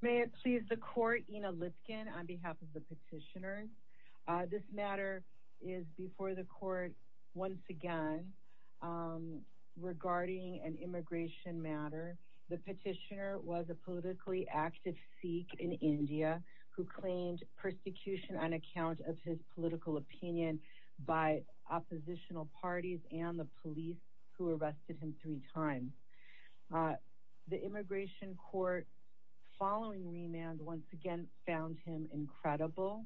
May it please the court, Ina Lipkin, on behalf of the petitioners. This matter is before the court once again regarding an immigration matter. The petitioner was a politically active Sikh in India who claimed persecution on account of his political opinion by oppositional parties and the police who arrested him three times. The immigration court following remand once again found him incredible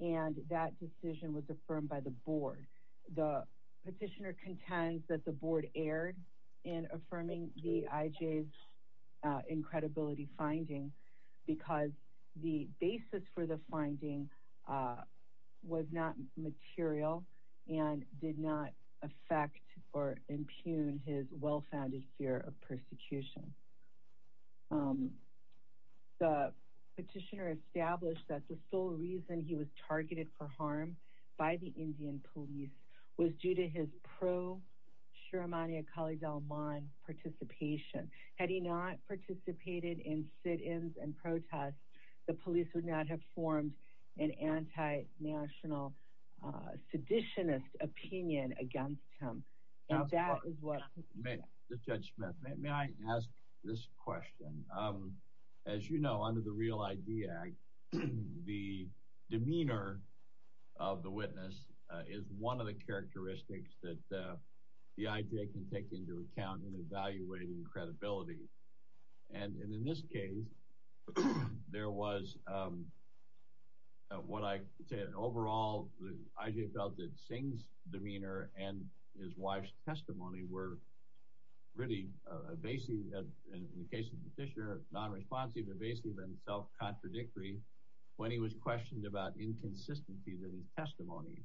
and that decision was affirmed by the board. The petitioner contends that the board erred in affirming the IJ's incredibility finding because the basis for or impugn his well-founded fear of persecution. The petitioner established that the sole reason he was targeted for harm by the Indian police was due to his pro-Shiromani Akali Dalman participation. Had he not participated in sit-ins and protests, the police would not have formed an anti-national seditionist opinion against him. Judge Smith, may I ask this question? As you know under the Real ID Act, the demeanor of the witness is one of the characteristics that the IJ can say. Overall, the IJ felt that Singh's demeanor and his wife's testimony were really evasive in the case of the petitioner, non-responsive, evasive and self-contradictory when he was questioned about inconsistencies in his testimony.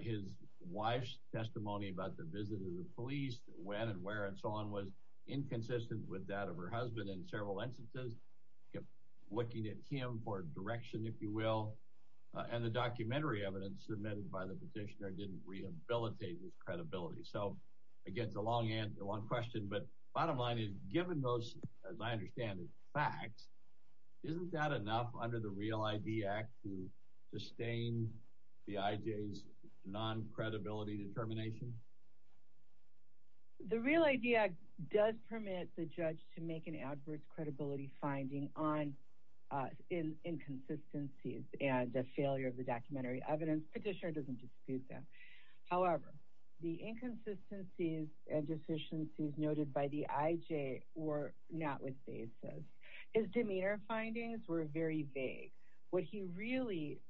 His wife's testimony about the visit of the police when and where and so on was inconsistent with that of her husband in several instances, kept looking at him for direction if you will, and the documentary evidence submitted by the petitioner didn't rehabilitate his credibility. So again, it's a long question, but bottom line is given those, as I understand, facts, isn't that enough under the Real ID Act to sustain the IJ's non-credibility determination? The Real ID Act does permit the judge to make an adverse credibility finding on inconsistencies and a failure of the documentary evidence. Petitioner doesn't dispute that. However, the inconsistencies and deficiencies noted by the IJ were not with basis. His demeanor findings were very vague. What he really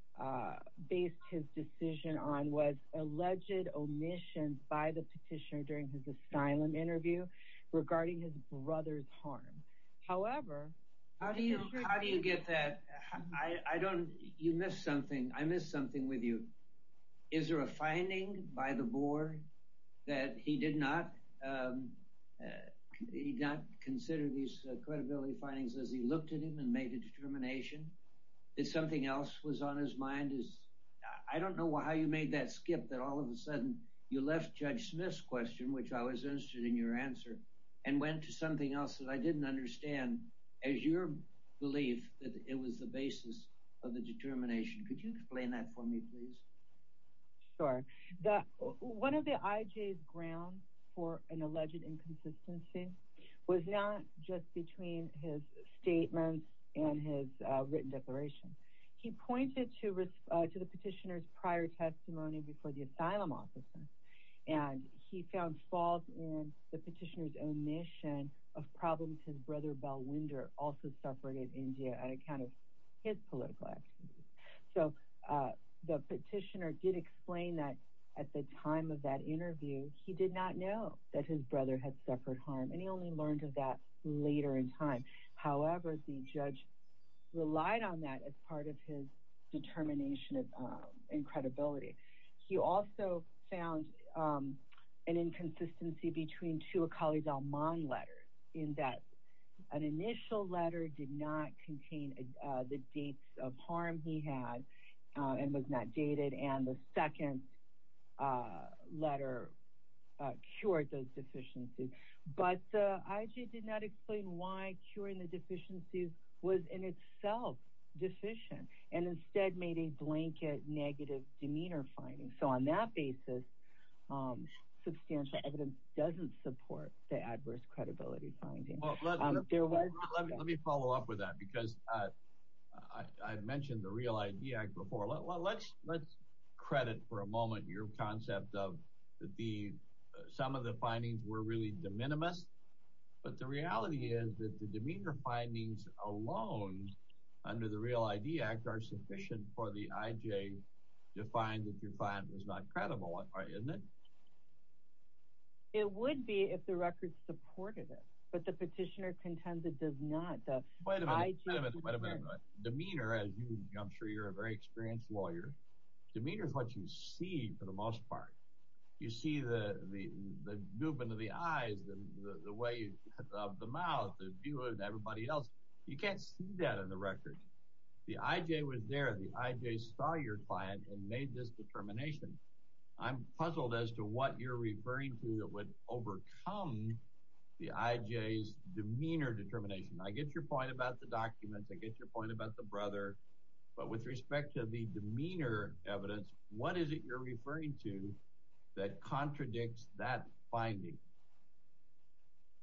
based his decision on was alleged omissions by the petitioner during his asylum interview regarding his brother's harm. However, how do you get that? I don't, you missed something. I missed something with you. Is there a finding by the board that he did not consider these credibility findings as he looked at him and made a determination? Is something else was on his mind? I don't know how you made that skip that all of a sudden you left Judge Smith's question, which I was interested in your answer, and went to something else that I didn't understand as your belief that it was the basis of the determination. Could you explain that for me, please? Sure. One of the IJ's grounds for an alleged inconsistency was not just between his statements and his written declaration. He pointed to the petitioner's prior testimony before the asylum officer and he found faults in the petitioner's omission of problems his brother, Bell Winder, also suffered in India on account of his political activities. So the petitioner did explain that at the time of that interview, he did not know that his brother had suffered harm and he only learned of that later in time. However, the judge relied on that as part of his determination and credibility. He also found an inconsistency between two Akali Dalman letters in that an initial letter did not contain the dates of harm he had and was not dated and the second letter cured those deficiencies. But the IJ did not explain why curing the deficiencies was in itself deficient and instead made a blanket negative demeanor finding. So on that basis, substantial evidence doesn't support the adverse credibility finding. Let me follow up with that because I mentioned the Real ID Act before. Let's credit for a moment your concept of some of the findings were really de minimis but the reality is that the demeanor findings alone under the Real ID Act are sufficient for the IJ to find that your plan was not credible, isn't it? It would be if the record supported it but the petitioner contends it does not. Wait a minute, wait a minute, wait a minute. Demeanor, as I'm sure you're a very experienced lawyer, demeanor is what you see for the most part. You see the movement of the eyes, the way of the mouth, the view of everybody else. You can't see that in the record. The IJ was there. The IJ saw your plan and made this determination. I'm puzzled as to what you're referring to that would overcome the IJ's demeanor determination. I get your point about the documents. I get your point about the brother but with respect to the demeanor evidence, what is it you're referring to that contradicts that finding?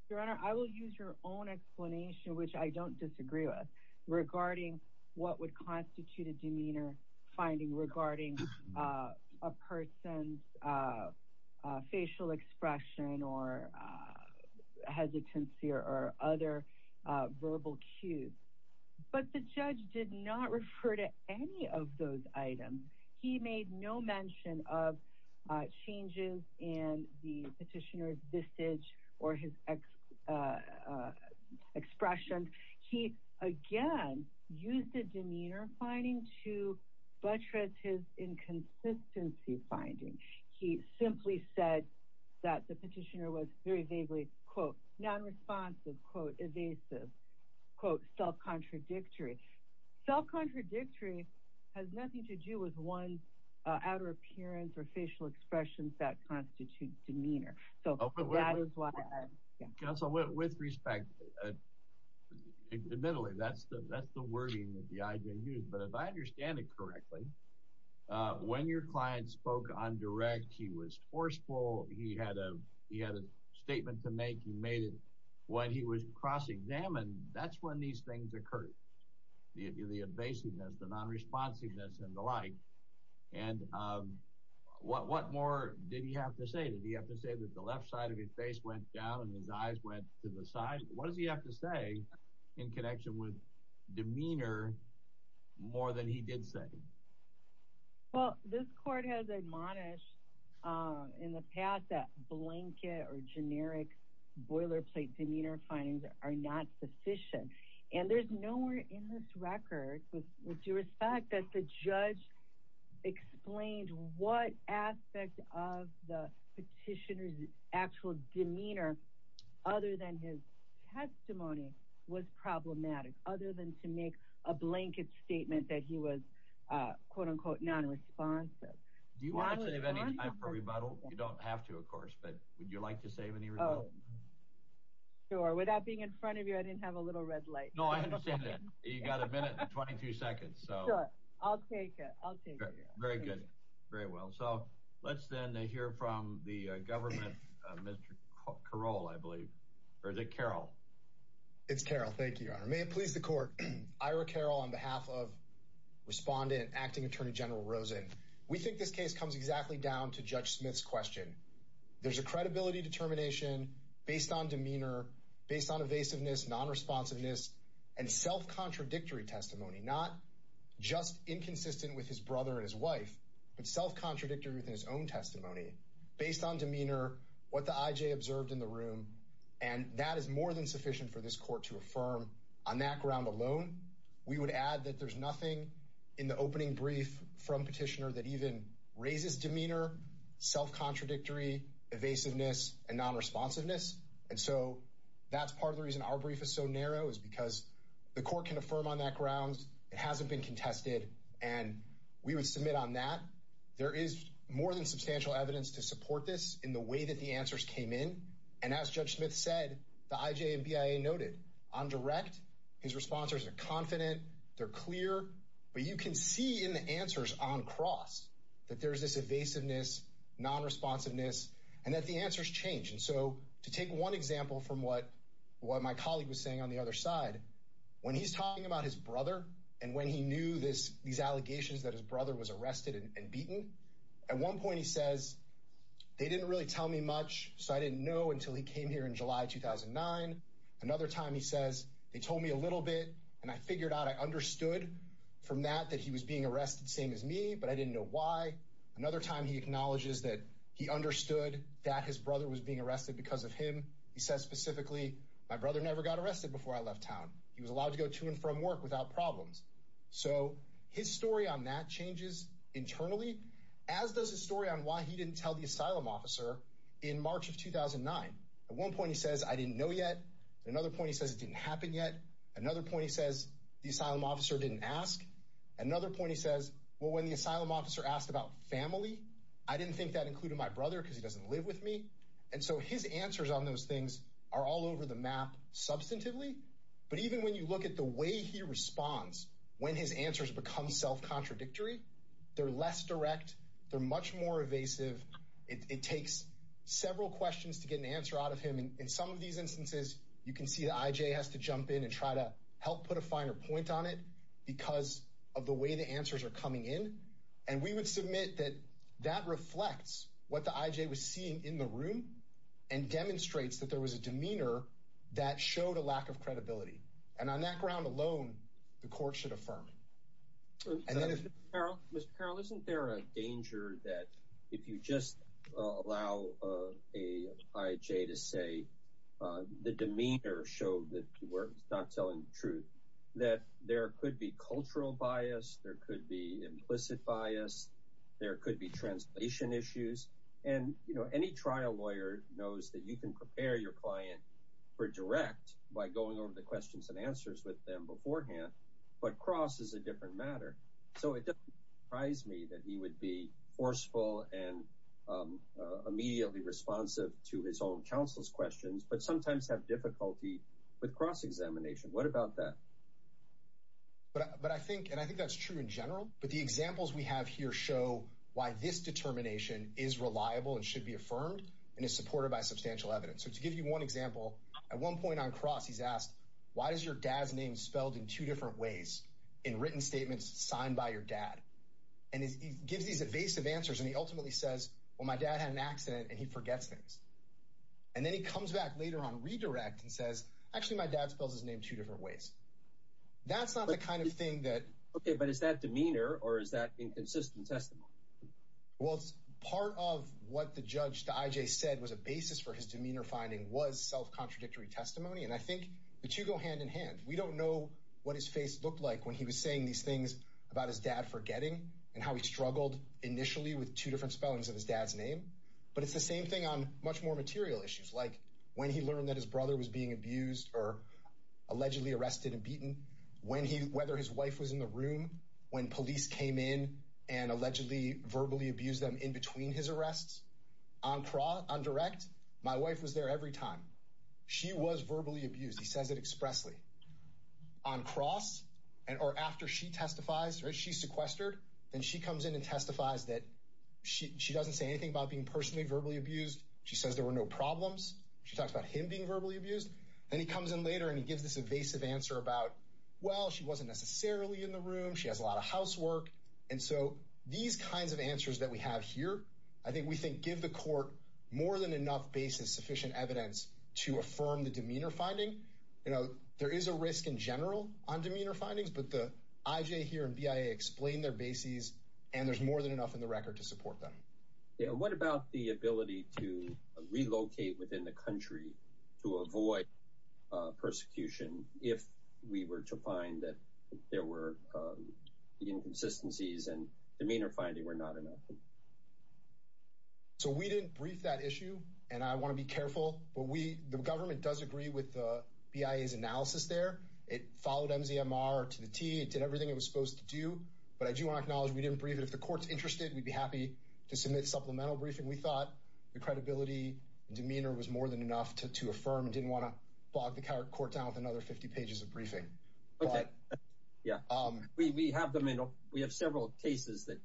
Your Honor, I will use your own explanation, which I don't disagree with, regarding what would constitute a demeanor finding regarding a person's facial expression or hesitancy or other verbal cues but the judge did not refer to any of those items. He made no mention of changes in the petitioner's visage or his expressions. He again used the demeanor finding to buttress his inconsistency finding. He simply said that the petitioner was very vaguely quote non-responsive, quote evasive, quote self-contradictory. Self-contradictory has nothing to do with one's outer appearance or facial expressions that constitute demeanor. So that is why. Counsel, with respect, admittedly, that's the wording that the IJ used but if I understand it correctly, when your client spoke on direct, he was forceful. He had a statement to make. He made it cross-examined. That's when these things occur. The evasiveness, the non-responsiveness and the like. What more did he have to say? Did he have to say that the left side of his face went down and his eyes went to the side? What does he have to say in connection with demeanor more than he did say? Well, this court has admonished in the past that blanket or generic boilerplate demeanor findings are not sufficient and there's nowhere in this record with due respect that the judge explained what aspect of the petitioner's actual demeanor other than his testimony was problematic. Other than to make a blanket statement that he was quote unquote non-responsive. Do you want to save any time for rebuttal? You don't have to, of course, but would you like to save any rebuttal? Oh, sure. Without being in front of you, I didn't have a little red light. No, I understand that. You got a minute and 22 seconds. So, I'll take it. I'll take it. Very good. Very well. So, let's then hear from the government, Mr. Caroll, I believe. Or is it Caroll? It's Caroll. Thank you, Your Honor. May it please the court. Ira Caroll on behalf of Respondent Acting Attorney General Rosen. We think this comes exactly down to Judge Smith's question. There's a credibility determination based on demeanor, based on evasiveness, non-responsiveness, and self-contradictory testimony. Not just inconsistent with his brother and his wife, but self-contradictory within his own testimony based on demeanor, what the IJ observed in the room, and that is more than sufficient for this court to affirm on that ground alone. We would add that there's nothing in the opening brief from Petitioner that even raises demeanor, self-contradictory, evasiveness, and non-responsiveness. And so, that's part of the reason our brief is so narrow is because the court can affirm on that ground. It hasn't been contested, and we would submit on that. There is more than substantial evidence to support this in the way that the answers came in. And as Judge Smith said, the IJ on cross that there's this evasiveness, non-responsiveness, and that the answers change. And so, to take one example from what my colleague was saying on the other side, when he's talking about his brother and when he knew these allegations that his brother was arrested and beaten, at one point he says, they didn't really tell me much, so I didn't know until he came here in July 2009. Another time he says, they told me a little bit, and I figured out I but I didn't know why. Another time he acknowledges that he understood that his brother was being arrested because of him. He says specifically, my brother never got arrested before I left town. He was allowed to go to and from work without problems. So, his story on that changes internally as does his story on why he didn't tell the asylum officer in March of 2009. At one point, he says, I didn't know yet. At another point, he says, it didn't happen yet. Another point, he says, the asylum officer didn't ask. Another point, he says, well, when the asylum officer asked about family, I didn't think that included my brother because he doesn't live with me. And so, his answers on those things are all over the map substantively. But even when you look at the way he responds, when his answers become self-contradictory, they're less direct, they're much more evasive. It takes several questions to get an answer out of him. And in these instances, you can see the IJ has to jump in and try to help put a finer point on it because of the way the answers are coming in. And we would submit that that reflects what the IJ was seeing in the room and demonstrates that there was a demeanor that showed a lack of credibility. And on that ground alone, the court should affirm it. Mr. Carroll, isn't there a danger that if you just allow an IJ to say, the demeanor showed that you were not telling the truth, that there could be cultural bias, there could be implicit bias, there could be translation issues. And, you know, any trial lawyer knows that you can prepare your client for direct by going over the questions and answers with them beforehand. But cross is a different matter. So it doesn't surprise me that he would be forceful and immediately responsive to his own counsel's questions, but sometimes have difficulty with cross-examination. What about that? But I think and I think that's true in general. But the examples we have here show why this determination is reliable and should be affirmed and is supported by substantial evidence. So to give you one example, at one point on cross, he's asked, why is your dad's name spelled in two different ways in written statements signed by your dad? And he gives these evasive answers. And he ultimately says, well, my dad had an accident and he forgets things. And then he comes back later on redirect and says, actually, my dad spells his name two different ways. That's not the kind of thing that. OK, but is that demeanor or is that inconsistent testimony? Well, part of what the judge to IJ said was a basis for his demeanor finding was self-contradictory testimony. And I think the two go hand in hand. We don't know what his face looked like when he was saying these things about his dad forgetting and how he struggled initially with two different spellings of his dad's name. But it's the same thing on much more material issues, like when he learned that his brother was being abused or allegedly arrested and beaten, when he whether his wife was in the room, when police came in and allegedly verbally abused them in between his arrests on Craw, on direct. My wife was there every time she was verbally abused. He says it expressly on cross. And or after she testifies, she sequestered and she comes in and testifies that she doesn't say anything about being personally verbally abused. She says there were no problems. She talks about him being verbally abused. Then he comes in later and he gives this evasive answer about, well, she wasn't necessarily in the room. She has a And so these kinds of answers that we have here, I think we think give the court more than enough basis, sufficient evidence to affirm the demeanor finding. You know, there is a risk in general on demeanor findings, but the IJ here and BIA explain their bases and there's more than enough in the record to support them. What about the ability to relocate within the country to avoid persecution if we were to find that there were inconsistencies and demeanor finding were not enough? So we didn't brief that issue and I want to be careful, but we, the government does agree with the BIA's analysis there. It followed MZMR to the T. It did everything it was supposed to do, but I do want to acknowledge we didn't brief it. If the court's interested, we'd be happy to submit supplemental briefing. We thought the credibility and demeanor was more than enough to affirm and didn't want to bog the court down with another 50 pages of briefing. Yeah, we have several cases that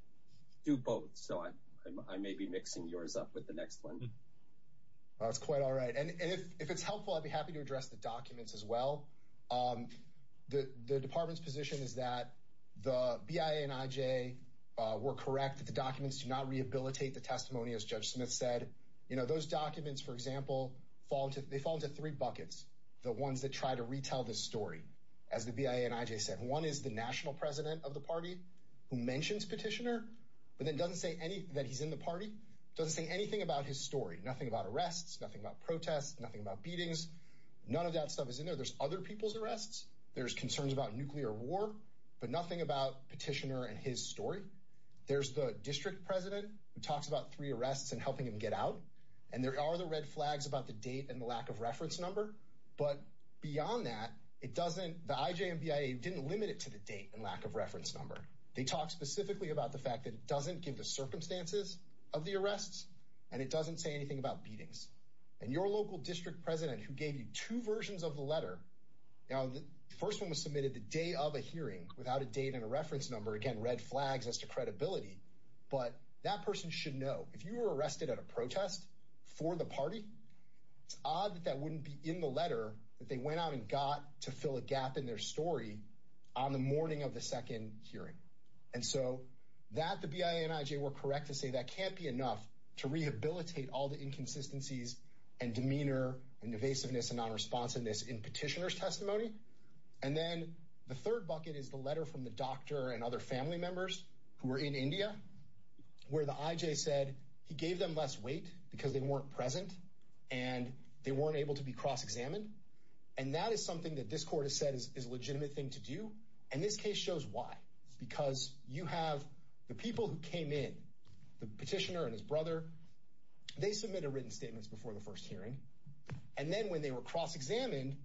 do both, so I may be mixing yours up with the next one. That's quite all right. And if it's helpful, I'd be happy to address the documents as well. The department's position is that the BIA and IJ were correct that the documents do not rehabilitate the testimony, as Judge Smith said. You know, those documents, for example, they fall into three buckets, the ones that try to retell the story, as the BIA and IJ said. One is the national president of the party who mentions Petitioner, but then doesn't say anything that he's in the party, doesn't say anything about his story. Nothing about arrests, nothing about protests, nothing about beatings. None of that stuff is in there. There's other people's arrests. There's concerns about nuclear war, but nothing about Petitioner and his story. There's the district president who talks about three arrests and helping him get out, and there are the red flags about the date and the lack of reference number. But beyond that, it doesn't, the IJ and BIA didn't limit it to the date and lack of reference number. They talk specifically about the fact that it doesn't give the circumstances of the arrests, and it doesn't say anything about beatings. And your local district president who gave you two versions of the letter, now the first one was submitted the day of a hearing without a date and a reference number, again, red flags as to credibility. But that person should know, if you were arrested at a protest for the party, it's odd that that wouldn't be in the letter that they went out and got to fill a gap in their story on the morning of the second hearing. And so that the BIA and IJ were correct to say that can't be enough to rehabilitate all the inconsistencies and demeanor and evasiveness and non-responsiveness in Petitioner's testimony. And then the third bucket is the letter from the doctor and other family members who were in India where the IJ said he gave them less weight because they weren't present and they weren't able to be cross-examined. And that is something that this court has said is a legitimate thing to do. And this case shows why. Because you have the people who came in, the petitioner and his brother, they submit a written statement before the first hearing. And then when they were cross-examined,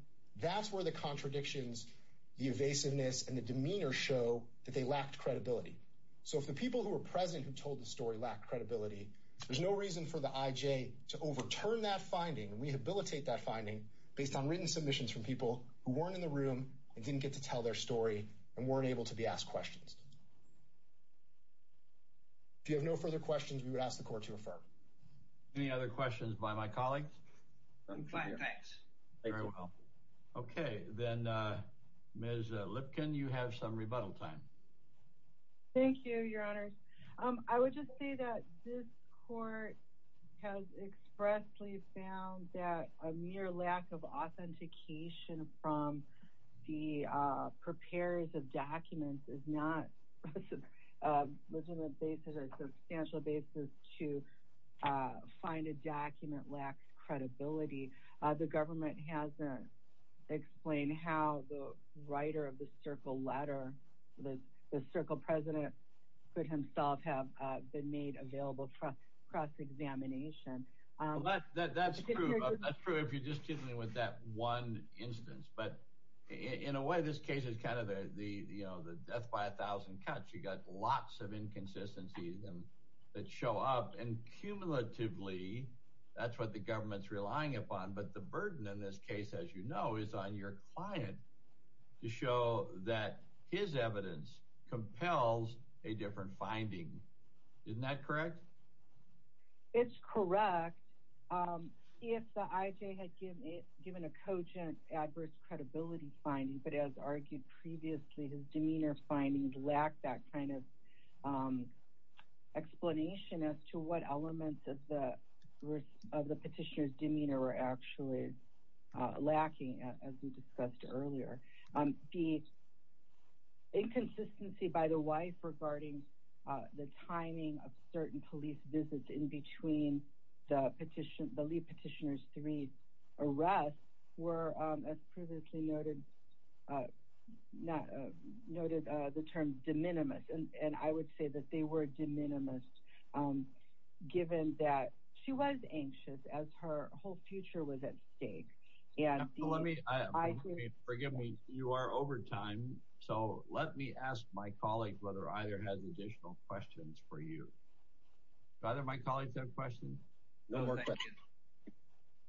that's where the contradictions, the evasiveness, and the demeanor show that they lacked credibility. So if the people who were present who told the story lacked credibility, there's no reason for the IJ to overturn that finding and rehabilitate that finding based on written submissions from people who weren't in the room and didn't get to tell their story and weren't able to be asked questions. If you have no further questions, we would ask the court to refer. Any other questions by my colleagues? I'm fine, thanks. Very well. Okay, then Ms. Lipkin, you have some rebuttal time. Thank you, your honors. I would just say that this court has expressly found that a mere lack of authentication from the preparers of documents is not a legitimate basis or a substantial basis to find a document lacks credibility. The government hasn't explained how the writer of the Circle letter, the Circle president, could himself have been made available for cross-examination. That's true if you're just kidding me with that one instance. But in a way, this case is kind of the death by a thousand cuts. You got lots of inconsistencies that show up, and cumulatively, that's what the government's relying upon. But the burden in this case, as you know, is on your client to show that his evidence compels a different finding. Isn't that correct? It's correct. If the IJ had given a cogent adverse credibility finding, but as argued previously, his demeanor findings lack that kind of explanation as to what elements of the petitioner's demeanor were actually lacking, as we discussed earlier. The inconsistency by the wife regarding the timing of certain police visits in between the lead petitioner's three arrests were, as previously noted, the term de minimis. And I would say that they were de minimis given that she was anxious as her whole future was at stake. Forgive me, you are over time, so let me ask my colleague whether either has additional questions for you. Do either of my colleagues have questions? No, thank you.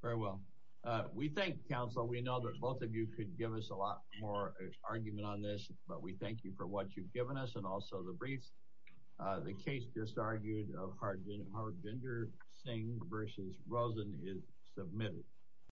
Very well. We thank counsel. We know that both of you could give us a lot more argument on this, but we thank you for what you've given us and also the briefs. The case just argued of Harbinder Singh versus Rosen is submitted.